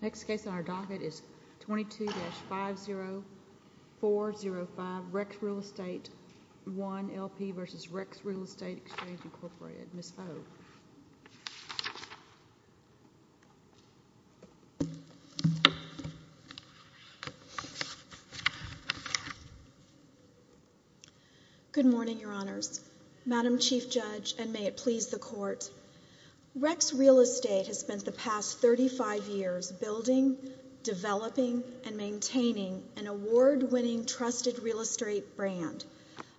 Next case on our docket is 22-50405, Rex Real Est. Good morning, Your Honors, Madam Chief Judge, and may it please the Court, Rex Real Estate has spent the past 35 years building, developing, and maintaining an award-winning trusted real estate brand,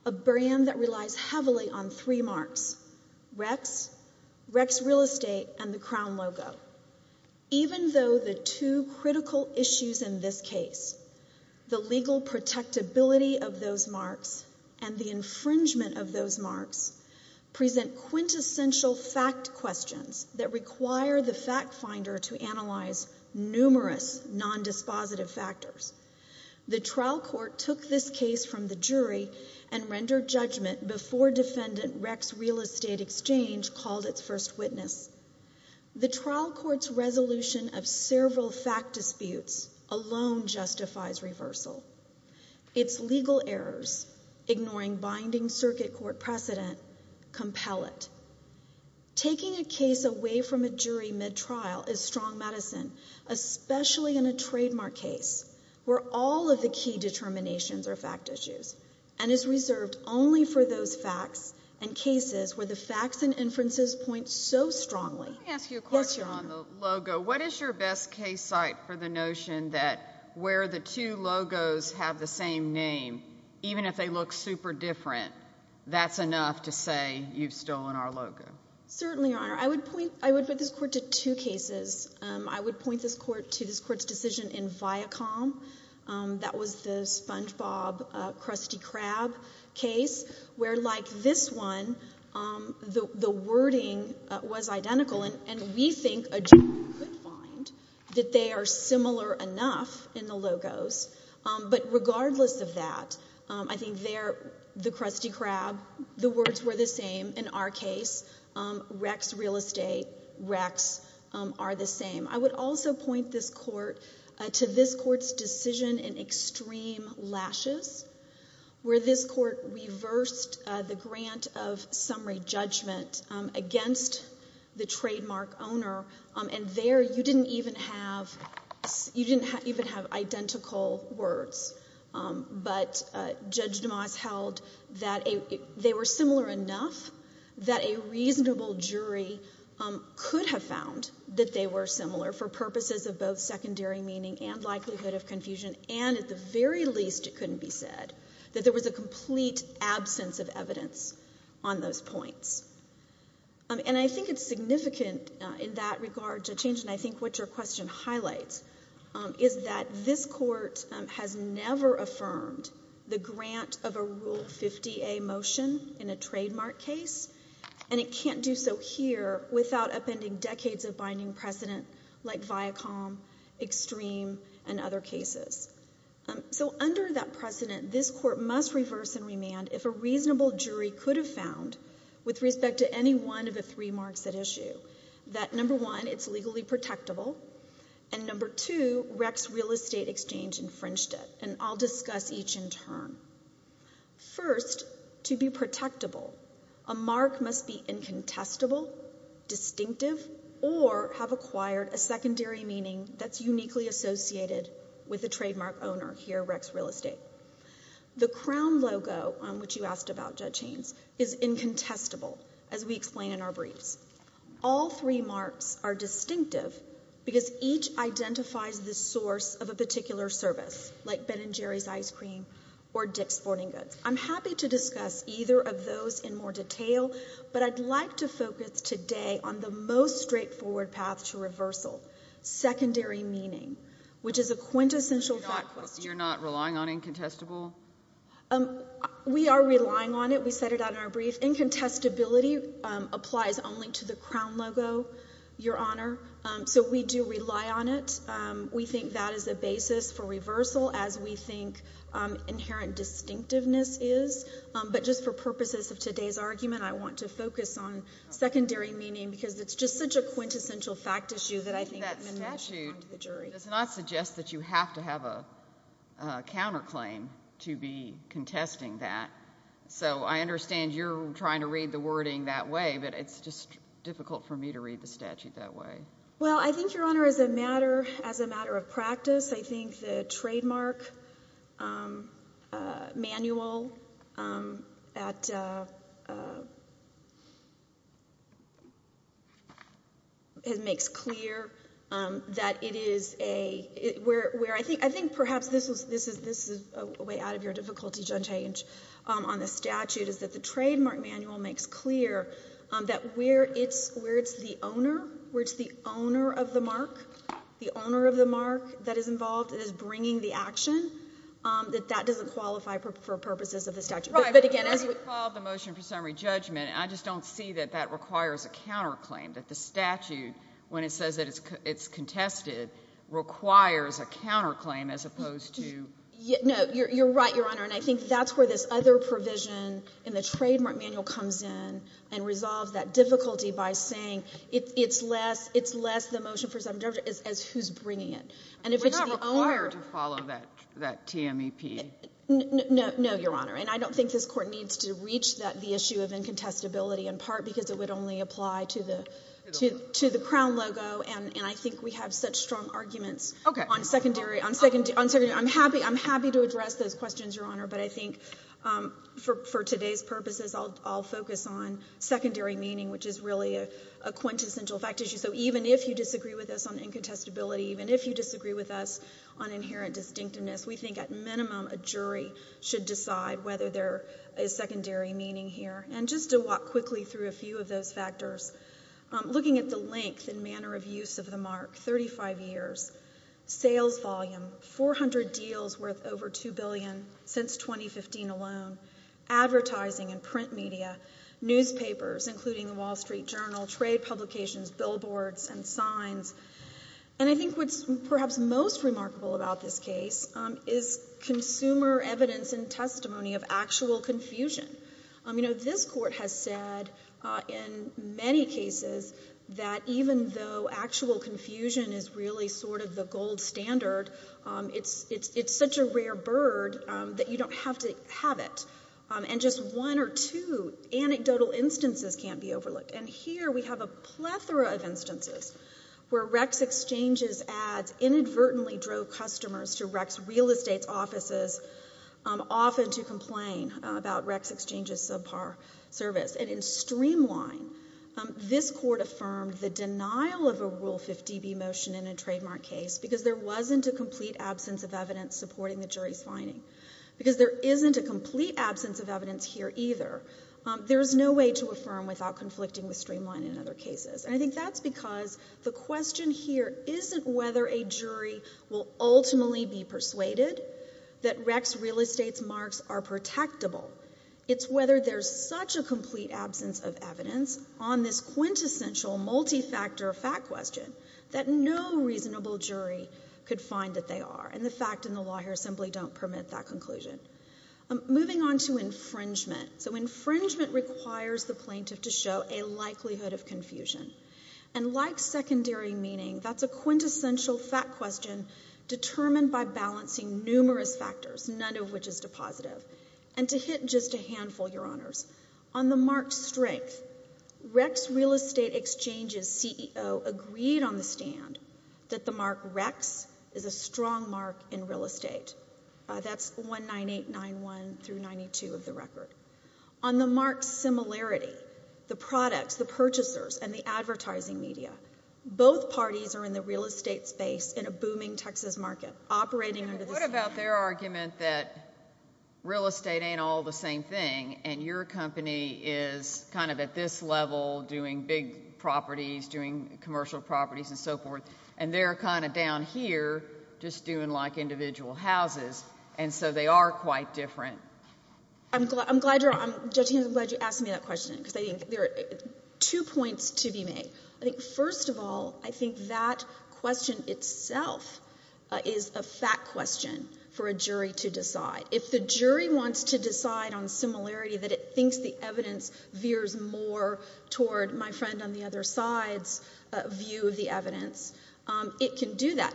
a brand that relies heavily on three marks, Rex, Rex Real Estate, and the crown logo. Even though the two critical issues in this case, the legal protectability of those marks and the infringement of those marks, present quintessential fact questions that require the fact finder to analyze numerous non-dispositive factors. The trial court took this case from the jury and rendered judgment before defendant Rex Real Estate Exchange called its first witness. The trial court's resolution of several fact disputes alone justifies reversal. Its legal errors, ignoring binding circuit court precedent, compel it. Taking a case away from a jury mid-trial is strong medicine, especially in a trademark case, where all of the key determinations are fact issues, and is reserved only for those facts and cases where the facts and inferences point so strongly. Yes, Your Honor. Let me ask you a question on the logo. What is your best case site for the notion that where the two logos have the same name, even if they look super different, that's enough to say you've stolen our logo? Certainly, Your Honor. I would put this court to two cases. I would point this court to this court's decision in Viacom. That was the Spongebob Krusty Krab case, where like this one, the wording was identical, and we think a jury could find that they are similar enough in the logos, but regardless of that, I think there, the Krusty Krab, the words were the same. In our case, Rex Real Estate, Rex are the same. I would also point this court to this court's decision in Extreme Lashes, where this court reversed the grant of summary judgment against the trademark owner, and there you didn't even have, you didn't even have identical words, but Judge DeMoss held that they were similar enough that a reasonable jury could have found that they were similar for purposes of both secondary meaning and likelihood of confusion, and at the very least, it couldn't be said that there was a complete absence of evidence on those points. And I think it's significant in that regard to change, and I think what your question highlights is that this court has never affirmed the grant of a Rule 50A motion in a trademark case, and it can't do so here without upending decades of binding precedent like Viacom, Extreme, and other cases. So under that precedent, this court must reverse and remand if a reasonable jury could have found, with respect to any one of the three marks at issue, that number one, it's legally protectable, and number two, Rex Real Estate Exchange infringed it, and I'll discuss each in turn. First, to be protectable, a mark must be incontestable, distinctive, or have acquired a secondary meaning that's uniquely associated with the trademark owner here, Rex Real Estate. The crown logo on which you asked about, Judge Haynes, is incontestable, as we explain in our briefs. All three marks are distinctive because each identifies the source of a particular service, like Ben & Jerry's ice cream or Dick's Sporting Goods. I'm happy to discuss either of those in more detail, but I'd like to focus today on the most straightforward path to reversal, secondary meaning, which is a quintessential fact question. So you're not relying on incontestable? We are relying on it. We set it out in our brief. Incontestability applies only to the crown logo, Your Honor, so we do rely on it. We think that is a basis for reversal, as we think inherent distinctiveness is, but just for purposes of today's argument, I want to focus on secondary meaning because it's just such a quintessential fact issue that I think it's statutory to the jury. It does not suggest that you have to have a counterclaim to be contesting that. So I understand you're trying to read the wording that way, but it's just difficult for me to read the statute that way. Well, I think, Your Honor, as a matter of practice, I think the trademark manual at... It makes clear that it is a... I think perhaps this is a way out of your difficulty, Judge Haynes, on the statute, is that the trademark manual makes clear that where it's the owner, where it's the owner of the mark, the owner of the mark that is involved and is bringing the action, that that doesn't qualify for purposes of the statute. Right, but when I recall the motion for summary judgment, I just don't see that that requires a counterclaim, that the statute, when it says that it's contested, requires a counterclaim as opposed to... No, you're right, Your Honor, and I think that's where this other provision in the trademark manual comes in and resolves that difficulty by saying it's less the motion for summary judgment as who's bringing it. And if it's the owner... We're not required to follow that TMEP. No, Your Honor. And I don't think this court needs to reach the issue of incontestability, in part because it would only apply to the crown logo, and I think we have such strong arguments on secondary. I'm happy to address those questions, Your Honor, but I think for today's purposes, I'll focus on secondary meaning, which is really a quintessential fact issue, so even if you disagree with us on incontestability, even if you disagree with us on inherent distinctiveness, we think, at minimum, a jury should decide whether there is secondary meaning here. And just to walk quickly through a few of those factors, looking at the length and manner of use of the mark, 35 years, sales volume, 400 deals worth over $2 billion since 2015 alone, advertising and print media, newspapers, including the Wall Street Journal, trade publications, billboards and signs. And I think what's perhaps most remarkable about this case is consumer evidence and testimony of actual confusion. This court has said, in many cases, that even though actual confusion is really sort of the gold standard, it's such a rare bird that you don't have to have it. And just one or two anecdotal instances can't be overlooked. And here we have a plethora of instances where Rex Exchange's ads inadvertently drove customers to Rex Real Estate's offices, often to complain about Rex Exchange's subpar service. And in Streamline, this court affirmed the denial of a Rule 50b motion in a trademark case because there wasn't a complete absence of evidence supporting the jury's finding. Because there isn't a complete absence of evidence here either. There is no way to affirm without conflicting with Streamline in other cases. And I think that's because the question here isn't whether a jury will ultimately be persuaded that Rex Real Estate's marks are protectable. It's whether there's such a complete absence of evidence on this quintessential multi-factor fact question that no reasonable jury could find that they are. And the fact and the law here simply don't permit that conclusion. Moving on to infringement. So infringement requires the plaintiff to show a likelihood of confusion. And like secondary meaning, that's a quintessential fact question determined by balancing numerous factors, none of which is depositive. And to hit just a handful, Your Honors, on the mark strength, Rex Real Estate Exchange's CEO agreed on the stand that the mark Rex is a strong mark in real estate. That's 19891 through 92 of the record. On the mark similarity, the products, the purchasers, and the advertising media, both parties are in the real estate space in a booming Texas market operating under the same name. What about their argument that real estate ain't all the same thing and your company is kind of at this level doing big properties, doing commercial properties and so forth, and they're kind of down here just doing like individual houses. And so they are quite different. I'm glad you asked me that question because I think there are two points to be made. First of all, I think that question itself is a fact question for a jury to decide. If the jury wants to decide on similarity that it thinks the evidence veers more toward my friend on the other side's view of the evidence, it can do that.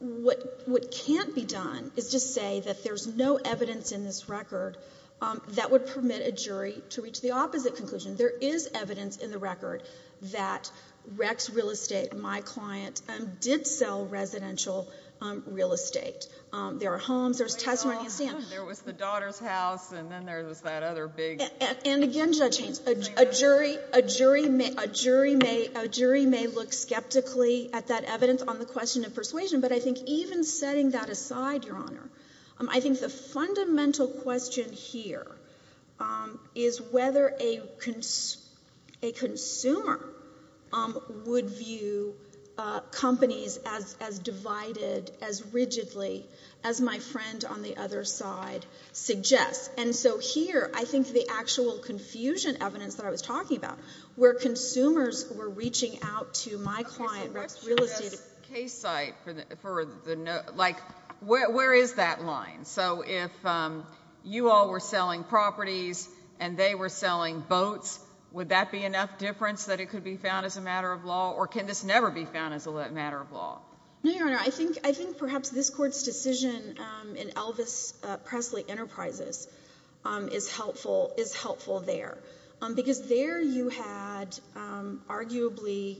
What can't be done is just say that there's no evidence in this record that would permit a jury to reach the opposite conclusion. There is evidence in the record that Rex Real Estate, my client, did sell residential real estate. There are homes, there's testimony in the stand. There was the daughter's house, and then there was that other big— And again, Judge Haynes, a jury may look skeptically at that evidence on the question of persuasion, but I think even setting that aside, Your Honor, I think the fundamental question here is whether a consumer would view companies as divided, as rigidly, as my friend on the other side suggests. Here, I think the actual confusion evidence that I was talking about, where consumers were reaching out to my client, Rex Real Estate— Okay, so let's do this case site. Where is that line? If you all were selling properties and they were selling boats, would that be enough difference that it could be found as a matter of law, or can this never be found as a matter of law? No, Your Honor. I think perhaps this Court's decision in Elvis Presley Enterprises is helpful there, because there you had arguably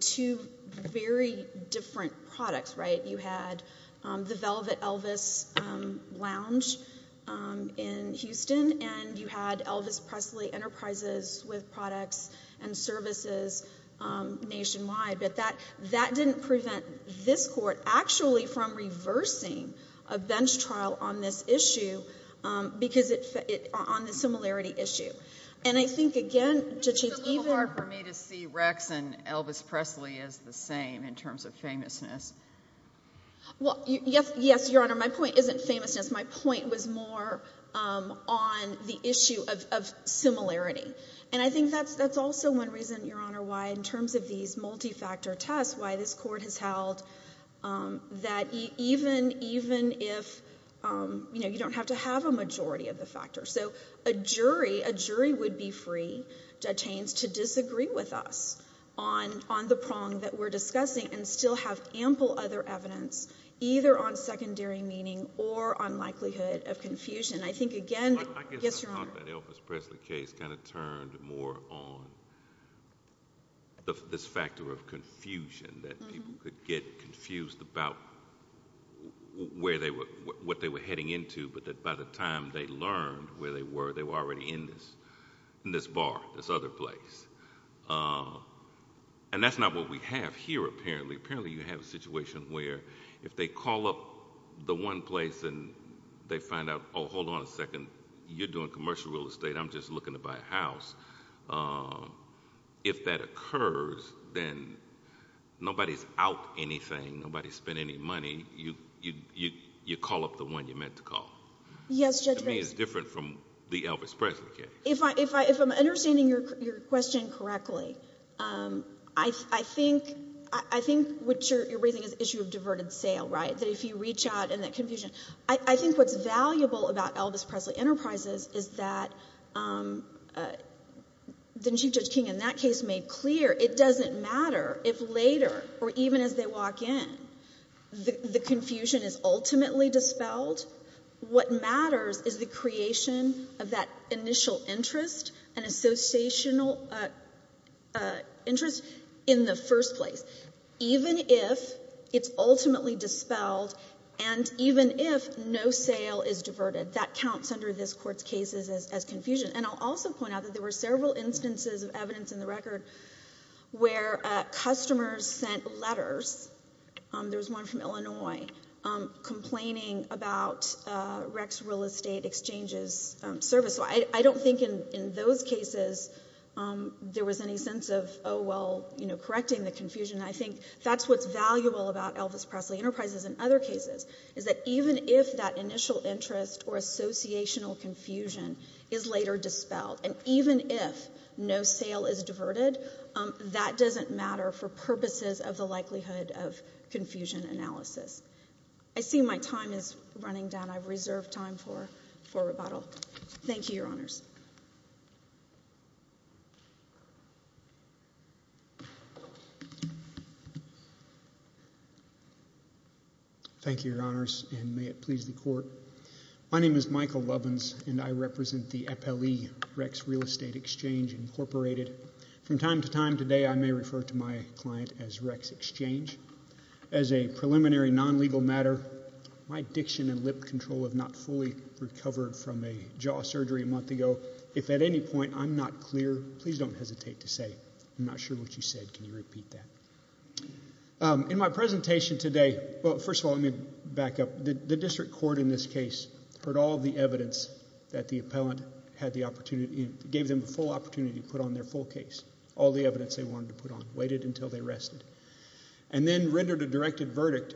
two very different products, right? You had the Velvet Elvis Lounge in Houston, and you had Elvis Presley Enterprises with this court, actually from reversing a bench trial on this issue, on the similarity issue. And I think, again, to change even— It's a little hard for me to see Rex and Elvis Presley as the same in terms of famousness. Well, yes, Your Honor, my point isn't famousness. My point was more on the issue of similarity. And I think that's also one reason, Your Honor, why in terms of these multi-factor tests, why this Court has held that even if, you know, you don't have to have a majority of the factor. So a jury would be free, Judge Haynes, to disagree with us on the prong that we're discussing and still have ample other evidence, either on secondary meaning or on likelihood of confusion. I think, again— I guess the fact that Elvis Presley case kind of turned more on this factor of confusion that people could get confused about what they were heading into, but that by the time they learned where they were, they were already in this bar, this other place. And that's not what we have here, apparently. Apparently, you have a situation where if they call up the one place and they find out, oh, hold on a second, you're doing commercial real estate, I'm just looking to buy a house. If that occurs, then nobody's out anything, nobody's spent any money. You call up the one you're meant to call. Yes, Judge Haynes. To me, it's different from the Elvis Presley case. If I'm understanding your question correctly, I think what you're raising is the issue of diverted sale, right? That if you reach out and that confusion—I think what's valuable about Elvis Presley Enterprises is that the Chief Judge King in that case made clear it doesn't matter if later or even as they walk in, the confusion is ultimately dispelled. What matters is the creation of that initial interest and associational interest in the first place, even if it's ultimately dispelled and even if no sale is diverted. That counts under this Court's cases as confusion. I'll also point out that there were several instances of evidence in the record where customers sent letters—there was one from Illinois—complaining about Rex Real Estate Exchange's service. I don't think in those cases there was any sense of, oh, well, correcting the confusion. I think that's what's valuable about Elvis Presley Enterprises and other cases, is that even if that initial interest or associational confusion is later dispelled and even if no sale is diverted, that doesn't matter for purposes of the likelihood of confusion analysis. I see my time is running down. I've reserved time for rebuttal. Thank you, Your Honors. Thank you, Your Honors, and may it please the Court. My name is Michael Lovins, and I represent the FLE, Rex Real Estate Exchange, Incorporated. From time to time today, I may refer to my client as Rex Exchange. As a preliminary non-legal matter, my diction and lip control have not fully recovered from a jaw surgery a month ago. If at any point I'm not clear, please don't hesitate to say, I'm not sure what you said. Can you repeat that? In my presentation today—well, first of all, let me back up. The district court in this case heard all of the evidence that the appellant had the opportunity—gave them the full opportunity to put on their full case, all the evidence they wanted to put on, waited until they rested, and then rendered a directed verdict,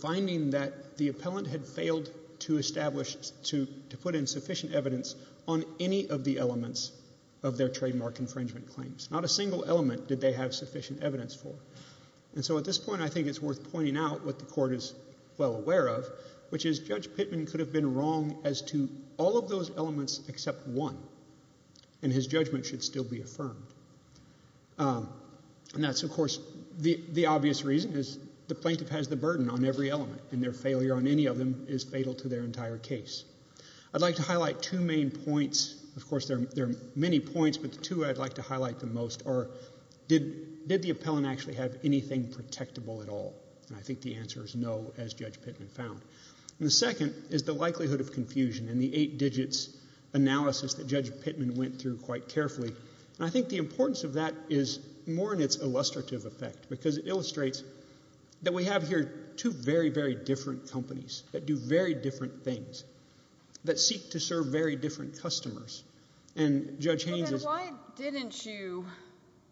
finding that the appellant had failed to establish—to put in sufficient evidence on any of the elements of their trademark infringement claims. Not a single element did they have sufficient evidence for. And so at this point, I think it's worth pointing out what the Court is well aware of, which is Judge Pittman could have been wrong as to all of those elements except one, and his judgment should still be affirmed. And that's, of course, the obvious reason is the plaintiff has the burden on every element, and their failure on any of them is fatal to their entire case. I'd like to highlight two main points—of course, there are many points, but the two I'd like to highlight the most are, did the appellant actually have anything protectable at all? And I think the answer is no, as Judge Pittman found. And the second is the likelihood of confusion in the eight digits analysis that Judge Pittman went through quite carefully. And I think the importance of that is more in its illustrative effect, because it illustrates that we have here two very, very different companies that do very different things, that seek to serve very different customers. And Judge Haynes is— Well, then why didn't you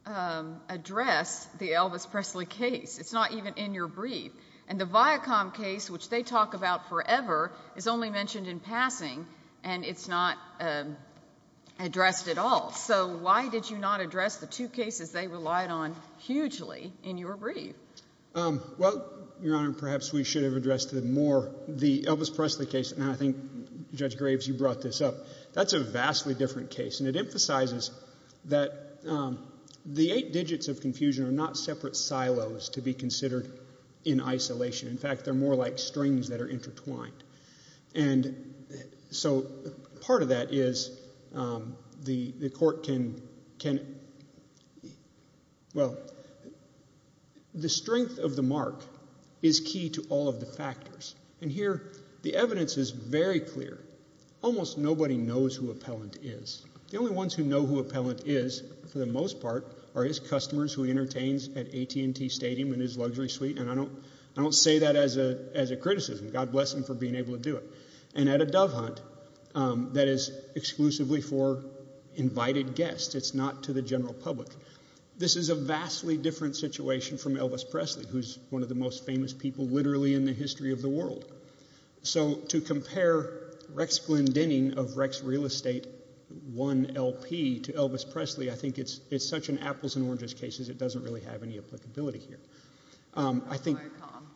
address the Elvis Presley case? It's not even in your brief. And the Viacom case, which they talk about forever, is only mentioned in passing, and it's not addressed at all. So why did you not address the two cases they relied on hugely in your brief? Well, Your Honor, perhaps we should have addressed the more—the Elvis Presley case, and I think Judge Graves, you brought this up, that's a vastly different case. And it emphasizes that the eight digits of confusion are not separate silos to be considered in isolation. In fact, they're more like strings that are intertwined. And so part of that is the court can—well, the strength of the mark is key to all of the factors. And here, the evidence is very clear. Almost nobody knows who Appellant is. The only ones who know who Appellant is, for the most part, are his customers who he entertains at AT&T Stadium in his luxury suite, and I don't say that as a criticism. God bless him for being able to do it. And at a dove hunt that is exclusively for invited guests. It's not to the general public. This is a vastly different situation from Elvis Presley, who's one of the most famous people literally in the history of the world. So to compare Rex Glyndening of Rex Real Estate, one LP, to Elvis Presley, I think it's such an apples-and-oranges case that it doesn't really have any applicability here. I think— Very calm.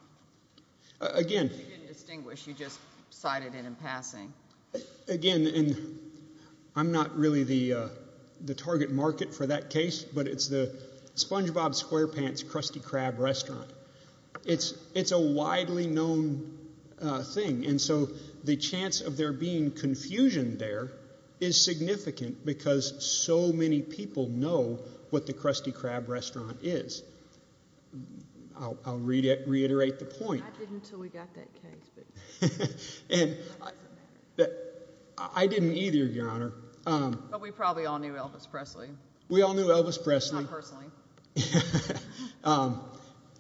Again— You didn't distinguish. You just cited it in passing. Again, and I'm not really the target market for that case, but it's the Spongebob Squarepants Krusty Krab restaurant. It's a widely known thing, and so the chance of there being confusion there is significant because so many people know what the Krusty Krab restaurant is. I'll reiterate the point. I didn't until we got that case. And I didn't either, Your Honor. But we probably all knew Elvis Presley. We all knew Elvis Presley. Not personally.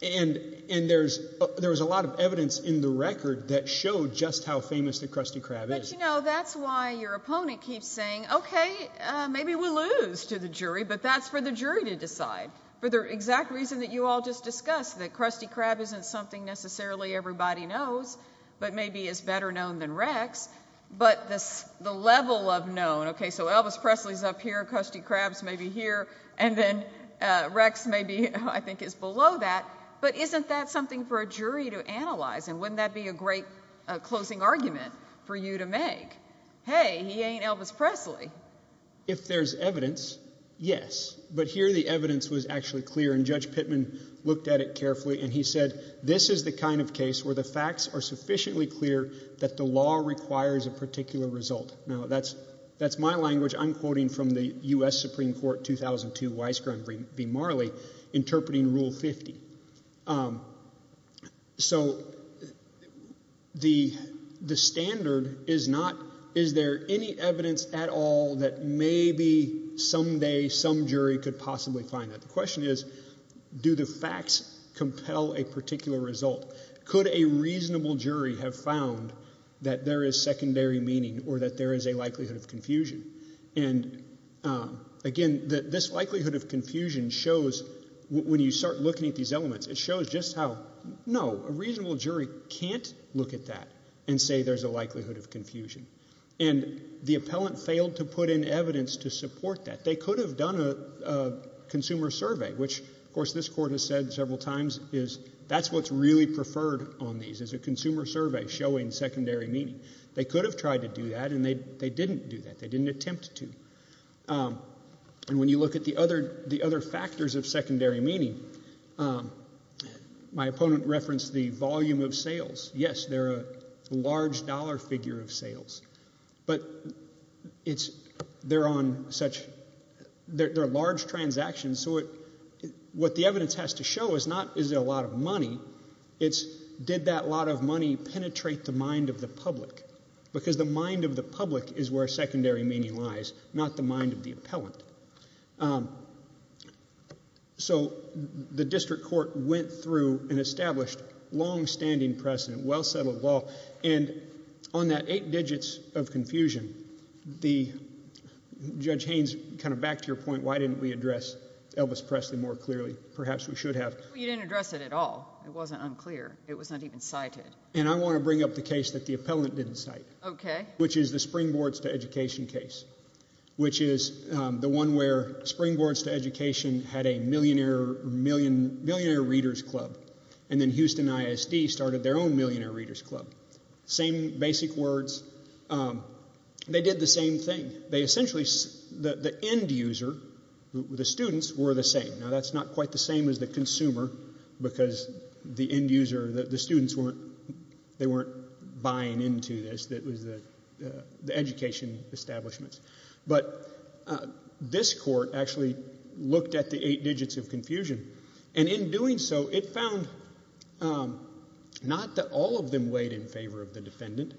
And there was a lot of evidence in the record that showed just how famous the Krusty Krab is. But, you know, that's why your opponent keeps saying, okay, maybe we'll lose to the jury, but that's for the jury to decide. For the exact reason that you all just discussed, that Krusty Krab isn't something necessarily everybody knows, but maybe is better known than Rex. But the level of known—okay, so Elvis Presley is up here, Krusty Krab is maybe here, and then Rex maybe, I think, is below that. But isn't that something for a jury to analyze, and wouldn't that be a great closing argument for you to make? Hey, he ain't Elvis Presley. If there's evidence, yes. But here the evidence was actually clear, and Judge Pittman looked at it carefully, and he said, this is the kind of case where the facts are sufficiently clear that the law requires a particular result. Now, that's my language I'm quoting from the U.S. Supreme Court 2002 Weisgrund v. Marley interpreting Rule 50. So, the standard is not, is there any evidence at all that maybe someday some jury could possibly find that? The question is, do the facts compel a particular result? Could a reasonable jury have found that there is secondary meaning or that there is a likelihood of confusion? And, again, this likelihood of confusion shows, when you start looking at these elements, it shows just how, no, a reasonable jury can't look at that and say there's a likelihood of confusion. And the appellant failed to put in evidence to support that. They could have done a consumer survey, which, of course, this Court has said several times, is that's what's really preferred on these, is a consumer survey showing secondary meaning. They could have tried to do that, and they didn't do that. They didn't attempt to. And when you look at the other factors of secondary meaning, my opponent referenced the volume of sales. Yes, they're a large dollar figure of sales, but it's, they're on such, they're large transactions, so what the evidence has to show is not, is it a lot of money? It's, did that lot of money penetrate the mind of the public? Because the mind of the public is where secondary meaning lies, not the mind of the appellant. So the district court went through and established long-standing precedent, well-settled law, and on that eight digits of confusion, the, Judge Haynes, kind of back to your point, why didn't we address Elvis Presley more clearly? Perhaps we should have. Well, you didn't address it at all. It wasn't unclear. It was not even cited. And I want to bring up the case that the appellant didn't cite, which is the Springboards to Education case, which is the one where Springboards to Education had a millionaire readers club, and then Houston ISD started their own millionaire readers club. Same basic words. They did the same thing. They essentially, the end user, the students, were the same. Now, that's not quite the same as the consumer, because the end user, the students weren't, they weren't buying into this, that was the education establishments. But this court actually looked at the eight digits of confusion, and in doing so, it found not that all of them weighed in favor of the defendant,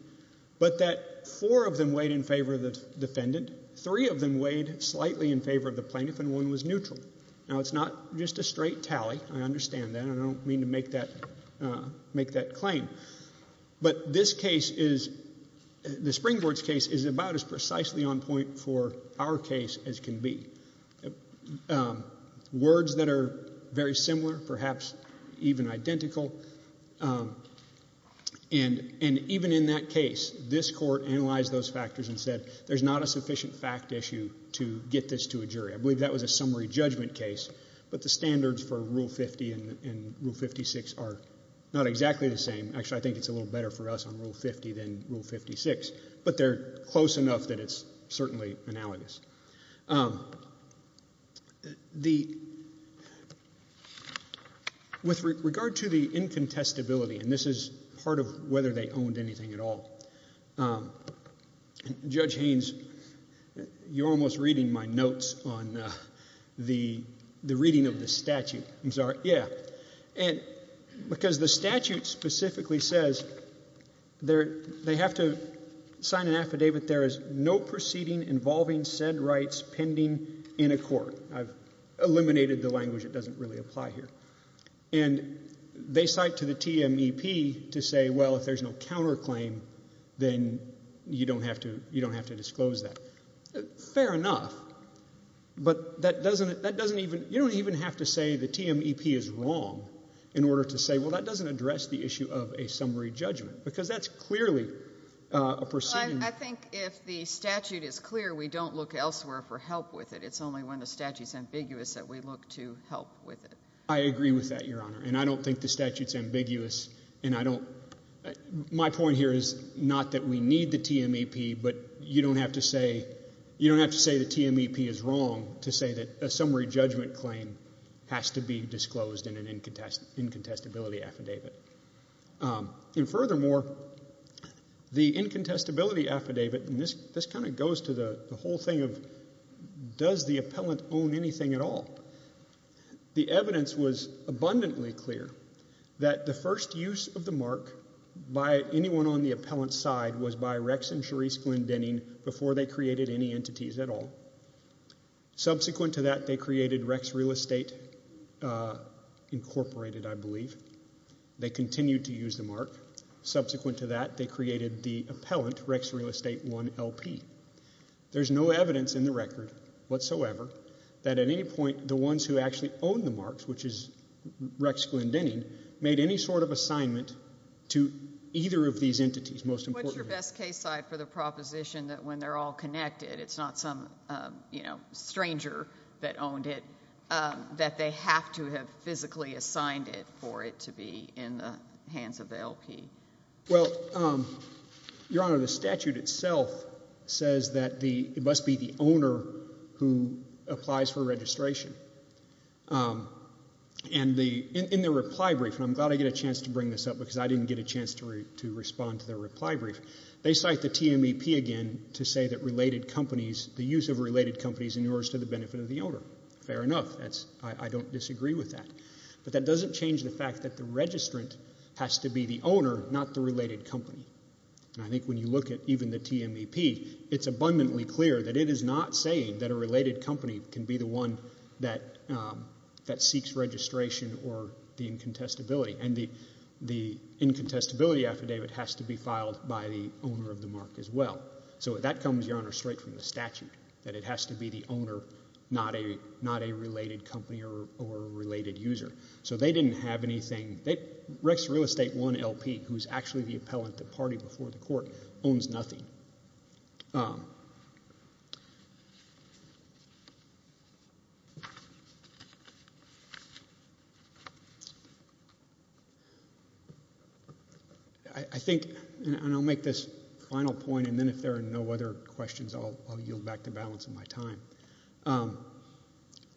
but that four of them weighed in favor of the defendant, three of them weighed slightly in favor of the plaintiff, and one was neutral. Now, it's not just a straight tally, I understand that, and I don't mean to make that claim, but this case is, the Springboards case is about as precisely on point for our case as can be. Words that are very similar, perhaps even identical, and even in that case, this court analyzed those factors and said, there's not a sufficient fact issue to get this to a jury. I believe that was a summary judgment case, but the standards for Rule 50 and Rule 56 are not exactly the same. Actually, I think it's a little better for us on Rule 50 than Rule 56, but they're close enough that it's certainly analogous. With regard to the incontestability, and this is part of whether they owned anything at all, Judge Haynes, you're almost reading my notes on the reading of the statute, I'm sorry. Yeah. Because the statute specifically says, they have to sign an affidavit, there is no proceeding involving said rights pending in a court. I've eliminated the language, it doesn't really apply here. And they cite to the TMEP to say, well, if there's no counterclaim, then you don't have to disclose that. Fair enough. But you don't even have to say the TMEP is wrong in order to say, well, that doesn't address the issue of a summary judgment, because that's clearly a proceeding. I think if the statute is clear, we don't look elsewhere for help with it. It's only when the statute's ambiguous that we look to help with it. I agree with that, Your Honor, and I don't think the statute's ambiguous, and I don't, my point here is not that we need the TMEP, but you don't have to say, you don't have to say the TMEP is wrong to say that a summary judgment claim has to be disclosed in an incontestability affidavit. And furthermore, the incontestability affidavit, and this kind of goes to the whole thing of, does the appellant own anything at all? The evidence was abundantly clear that the first use of the mark by anyone on the appellant's side was by Rex and Cherise Glyndenning before they created any entities at all. Subsequent to that, they created Rex Real Estate, Incorporated, I believe, they continued to use the mark. Subsequent to that, they created the appellant, Rex Real Estate 1LP. There's no evidence in the record whatsoever that at any point the ones who actually owned the marks, which is Rex Glyndenning, made any sort of assignment to either of these entities, most importantly. What's your best case side for the proposition that when they're all connected, it's not some stranger that owned it, that they have to have physically assigned it for it to be in the hands of the LP? Well, Your Honor, the statute itself says that it must be the owner who applies for registration. In their reply brief, and I'm glad I get a chance to bring this up because I didn't get a chance to respond to their reply brief, they cite the TMEP again to say that related companies, the use of related companies in order to the benefit of the owner. Fair enough. I don't disagree with that, but that doesn't change the fact that the registrant has to be the owner, not the related company. And I think when you look at even the TMEP, it's abundantly clear that it is not saying that a related company can be the one that seeks registration or the incontestability. And the incontestability affidavit has to be filed by the owner of the mark as well. So that comes, Your Honor, straight from the statute, that it has to be the owner, not a related company or a related user. So they didn't have anything. Rex Real Estate, one LP, who's actually the appellant, the party before the court, owns nothing. I think, and I'll make this final point, and then if there are no other questions, I'll yield back the balance of my time.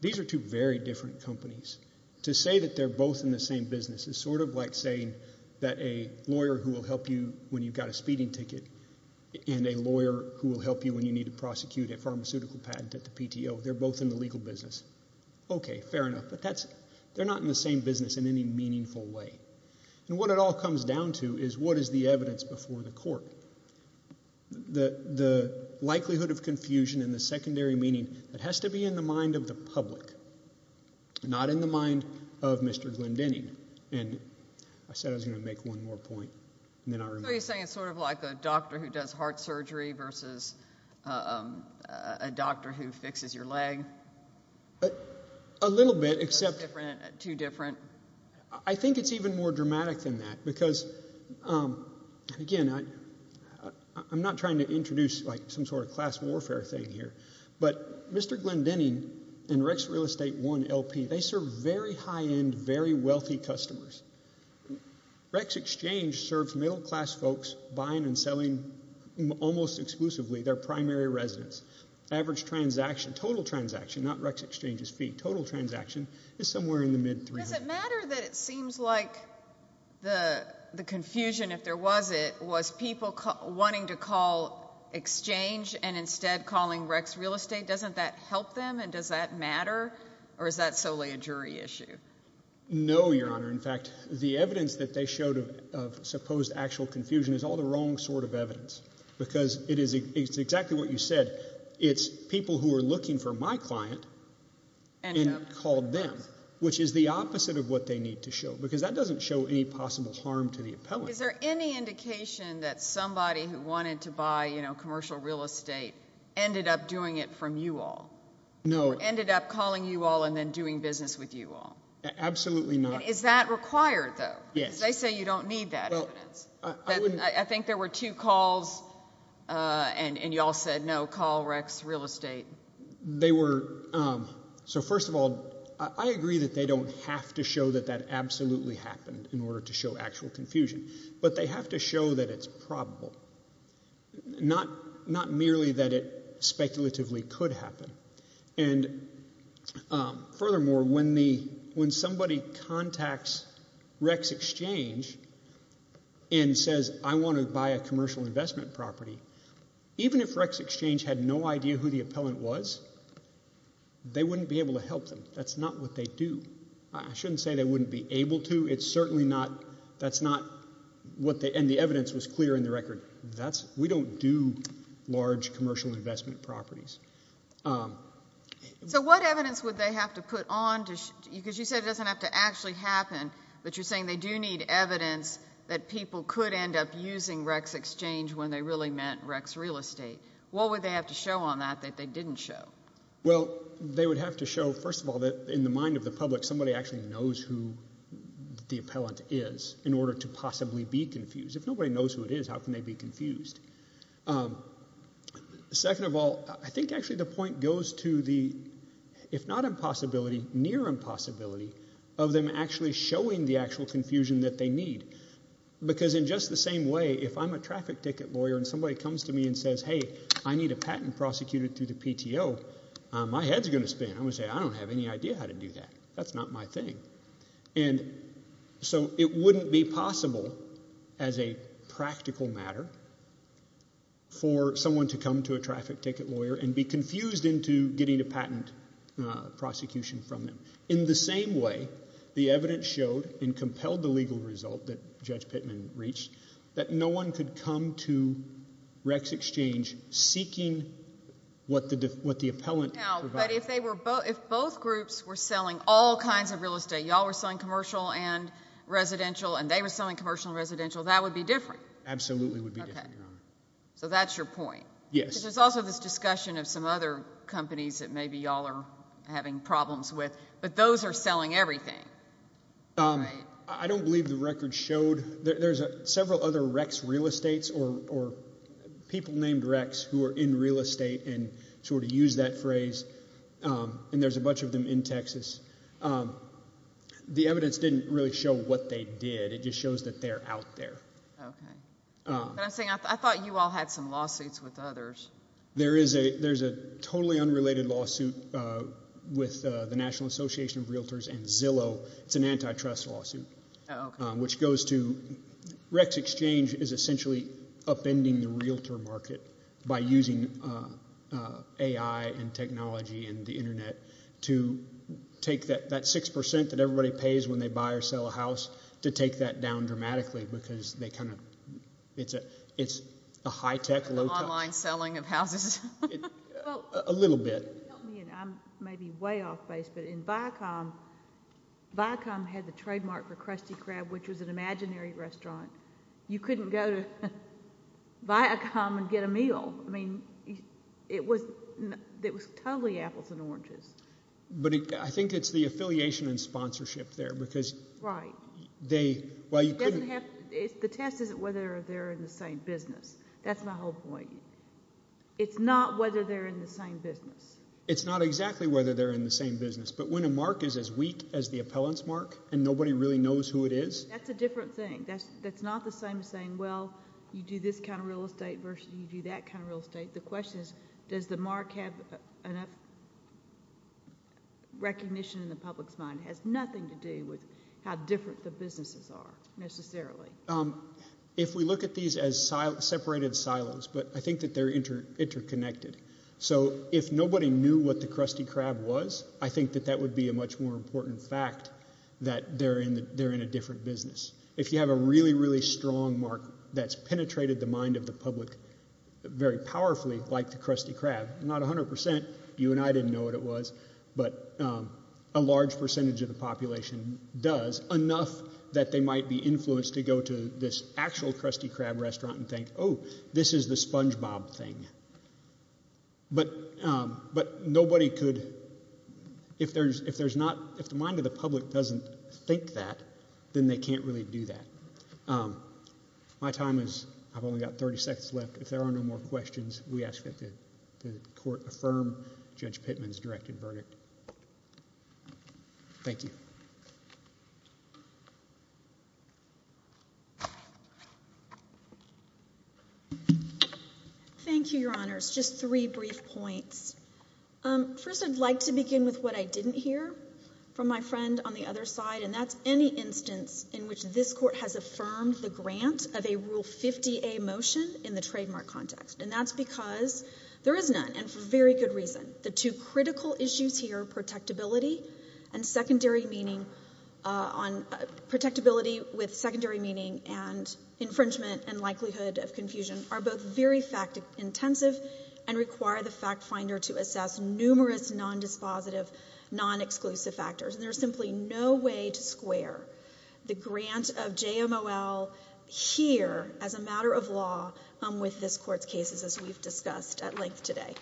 These are two very different companies. To say that they're both in the same business is sort of like saying that a lawyer who will help you when you've got a speeding ticket and a lawyer who will help you when you need to prosecute a pharmaceutical patent at the PTO, they're both in the legal business. Okay, fair enough, but they're not in the same business in any meaningful way. And what it all comes down to is what is the evidence before the court? The likelihood of confusion and the secondary meaning, it has to be in the mind of the public, not in the mind of Mr. Glendening. And I said I was going to make one more point, and then I removed it. So you're saying it's sort of like a doctor who does heart surgery versus a doctor who fixes your leg? A little bit, except... That's different? Too different? I think it's even more dramatic than that, because, again, I'm not trying to introduce some sort of class warfare thing here, but Mr. Glendening and Rex Real Estate One LP, they serve very high-end, very wealthy customers. Rex Exchange serves middle-class folks buying and selling almost exclusively their primary residence. Average transaction, total transaction, not Rex Exchange's fee, total transaction is somewhere in the mid-300s. Does it matter that it seems like the confusion, if there was it, was people wanting to call exchange and instead calling Rex Real Estate? Doesn't that help them, and does that matter, or is that solely a jury issue? No, Your Honor. In fact, the evidence that they showed of supposed actual confusion is all the wrong sort of evidence, because it is exactly what you said. It's people who are looking for my client and called them, which is the opposite of what they need to show, because that doesn't show any possible harm to the appellant. Is there any indication that somebody who wanted to buy commercial real estate ended up doing it from you all, or ended up calling you all and then doing business with you all? Absolutely not. Is that required, though? Yes. Because they say you don't need that evidence. I think there were two calls, and you all said, no, call Rex Real Estate. They were. So first of all, I agree that they don't have to show that that absolutely happened in order to show actual confusion. But they have to show that it's probable, not merely that it speculatively could happen. And furthermore, when somebody contacts Rex Exchange and says, I want to buy a commercial investment property, even if Rex Exchange had no idea who the appellant was, they wouldn't be able to help them. That's not what they do. I shouldn't say they wouldn't be able to. It's certainly not, that's not what they, and the evidence was clear in the record. We don't do large commercial investment properties. So what evidence would they have to put on, because you said it doesn't have to actually happen, but you're saying they do need evidence that people could end up using Rex Exchange when they really meant Rex Real Estate. What would they have to show on that that they didn't show? Well, they would have to show, first of all, that in the mind of the public, somebody actually knows who the appellant is in order to possibly be confused. If nobody knows who it is, how can they be confused? Second of all, I think actually the point goes to the, if not impossibility, near impossibility of them actually showing the actual confusion that they need. Because in just the same way, if I'm a traffic ticket lawyer and somebody comes to me and says, hey, I need a patent prosecuted through the PTO, my head's going to spin. I'm going to say, I don't have any idea how to do that. That's not my thing. And so it wouldn't be possible as a practical matter for someone to come to a traffic ticket lawyer and be confused into getting a patent prosecution from them. In the same way, the evidence showed and compelled the legal result that Judge Pittman reached that no one could come to Rex Exchange seeking what the appellant provided. Now, but if both groups were selling all kinds of real estate, y'all were selling commercial and residential, and they were selling commercial and residential, that would be different. Absolutely would be different, Your Honor. So that's your point? Yes. Because there's also this discussion of some other companies that maybe y'all are having problems with, but those are selling everything, right? I don't believe the record showed. There's several other Rex real estates or people named Rex who are in real estate and sort of use that phrase, and there's a bunch of them in Texas. The evidence didn't really show what they did. It just shows that they're out there. Okay. But I'm saying I thought you all had some lawsuits with others. There is a totally unrelated lawsuit with the National Association of Realtors and Zillow. It's an antitrust lawsuit, which goes to Rex Exchange is essentially upending the realtor market by using AI and technology and the Internet to take that 6% that everybody pays when they buy or sell a house, to take that down dramatically because they kind of, it's a high-tech, low-tech. The online selling of houses. A little bit. Help me, and I may be way off base, but in Viacom, Viacom had the trademark for Krusty Crab, which was an imaginary restaurant. You couldn't go to Viacom and get a meal. I mean, it was totally apples and oranges. But I think it's the affiliation and sponsorship there because they, well, you couldn't. The test isn't whether they're in the same business. That's my whole point. It's not whether they're in the same business. It's not exactly whether they're in the same business, but when a mark is as weak as the appellant's mark and nobody really knows who it is. That's a different thing. That's not the same as saying, well, you do this kind of real estate versus you do that kind of real estate. The question is, does the mark have enough recognition in the public's mind? It has nothing to do with how different the businesses are, necessarily. If we look at these as separated silos, but I think that they're interconnected, so if nobody knew what the Krusty Crab was, I think that that would be a much more important fact that they're in a different business. If you have a really, really strong mark that's penetrated the mind of the public very powerfully like the Krusty Crab, not 100%, you and I didn't know what it was, but a large percentage of the population does, enough that they might be influenced to go to this actual Krusty Crab restaurant and think, oh, this is the Spongebob thing, but nobody could, if there's not, if the mind of the public doesn't think that, then they can't really do that. My time is, I've only got 30 seconds left. If there are no more questions, we ask that the court affirm Judge Pittman's directed verdict. Thank you. Thank you, Your Honors. Just three brief points. First, I'd like to begin with what I didn't hear from my friend on the other side, and that's any instance in which this court has affirmed the grant of a Rule 50A motion in the trademark context, and that's because there is none, and for very good reason. The two critical issues here, protectability with secondary meaning and infringement and to assess numerous non-dispositive, non-exclusive factors, and there's simply no way to square the grant of JMOL here as a matter of law with this court's cases, as we've discussed at length today.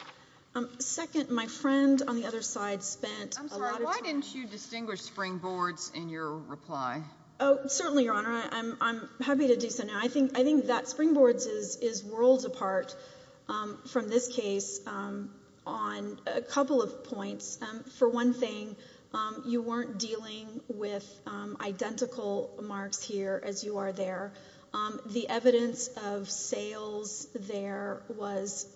Second, my friend on the other side spent a lot of time. I'm sorry, why didn't you distinguish springboards in your reply? Oh, certainly, Your Honor. I'm happy to do so now. I think that springboards is worlds apart from this case on a couple of points. For one thing, you weren't dealing with identical marks here as you are there. The evidence of sales there was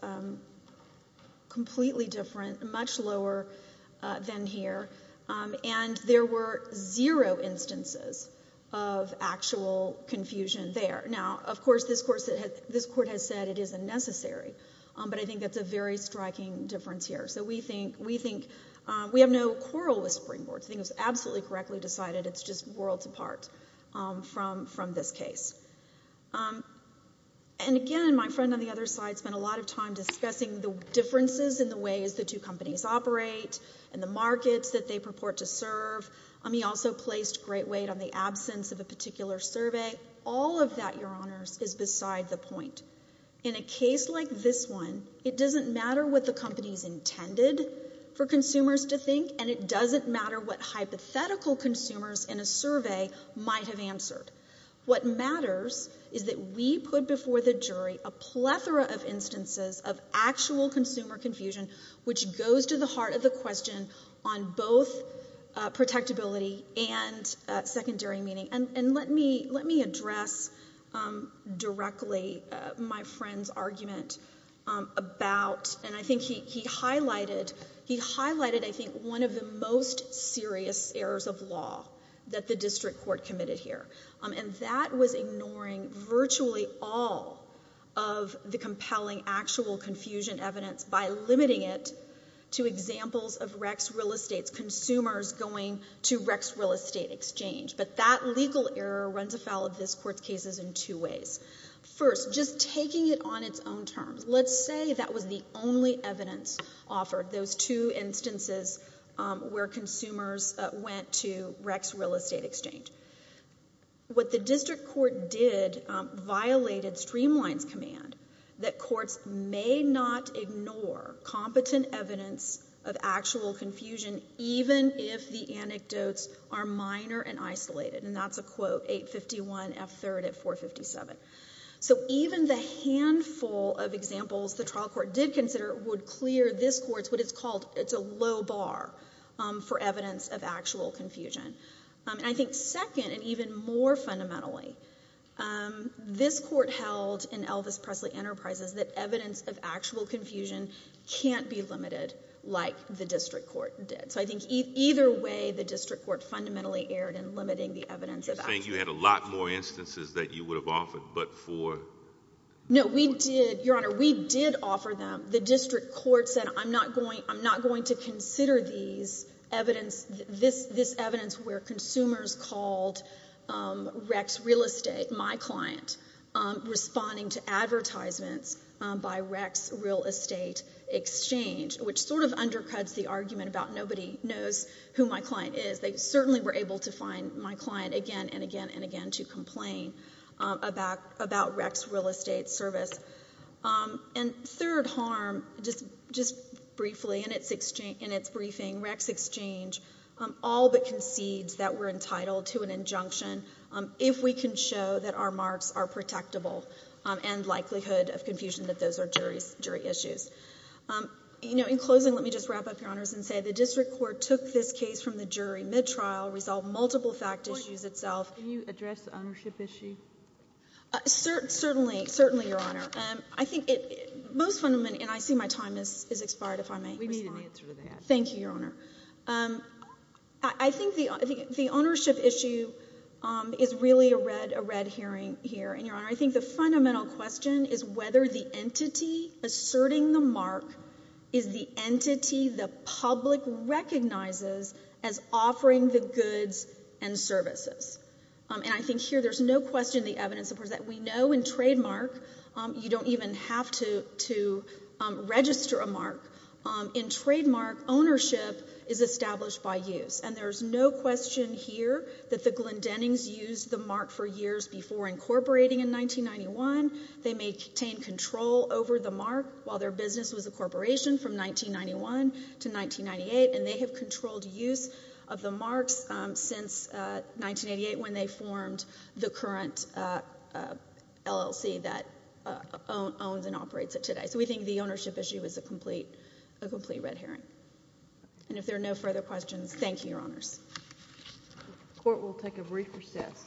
completely different, much lower than here, and there were zero instances of actual confusion there. Now, of course, this court has said it isn't necessary, but I think that's a very striking difference here. So we think... we have no quarrel with springboards. I think it was absolutely correctly decided it's just worlds apart from this case. And again, my friend on the other side spent a lot of time discussing the differences in ways the two companies operate and the markets that they purport to serve. He also placed great weight on the absence of a particular survey. All of that, Your Honors, is beside the point. In a case like this one, it doesn't matter what the company's intended for consumers to think, and it doesn't matter what hypothetical consumers in a survey might have answered. What matters is that we put before the jury a plethora of instances of actual consumer confusion, which goes to the heart of the question on both protectability and secondary meaning. And let me address directly my friend's argument about... and I think he highlighted one of the most serious errors of law that the district court committed here, and that was ignoring virtually all of the compelling actual confusion evidence by limiting it to examples of Rex Real Estate's consumers going to Rex Real Estate Exchange. But that legal error runs afoul of this Court's cases in two ways. First, just taking it on its own terms, let's say that was the only evidence offered, those two instances where consumers went to Rex Real Estate Exchange. What the district court did violated Streamline's command that courts may not ignore competent evidence of actual confusion even if the anecdotes are minor and isolated, and that's a Quote 851F3 at 457. So even the handful of examples the trial court did consider would clear this Court's what it's called, it's a low bar for evidence of actual confusion. And I think second, and even more fundamentally, this Court held in Elvis Presley Enterprises that evidence of actual confusion can't be limited like the district court did. So I think either way, the district court fundamentally erred in limiting the evidence of... You're saying you had a lot more instances that you would have offered, but for... No, we did, Your Honor, we did offer them. The district court said, I'm not going to consider this evidence where consumers called Rex Real Estate, my client, responding to advertisements by Rex Real Estate Exchange, which sort of undercuts the argument about nobody knows who my client is. They certainly were able to find my client again and again and again to complain about Rex Real Estate Service. And third harm, just briefly, in its briefing, Rex Exchange all but concedes that we're entitled to an injunction if we can show that our marks are protectable and likelihood of confusion that those are jury issues. You know, in closing, let me just wrap up, Your Honors, and say the district court took this case from the jury mid-trial, resolved multiple fact issues itself... Can you address the ownership issue? Certainly, certainly, Your Honor. I think it... most fundamentally... and I see my time has expired, if I may respond. We need an answer to that. Thank you, Your Honor. I think the ownership issue is really a red herring here, and Your Honor, I think the fundamental question is whether the entity asserting the mark is the entity the public recognizes as offering the goods and services. And I think here there's no question the evidence supports that. We know in trademark, you don't even have to register a mark. In trademark, ownership is established by use. And there's no question here that the Glendennings used the mark for years before incorporating in 1991. They maintained control over the mark while their business was a corporation from 1991 to 1998. And they have controlled use of the marks since 1988 when they formed the current LLC that owns and operates it today. So we think the ownership issue is a complete red herring. And if there are no further questions, thank you, Your Honors. The Court will take a brief recess.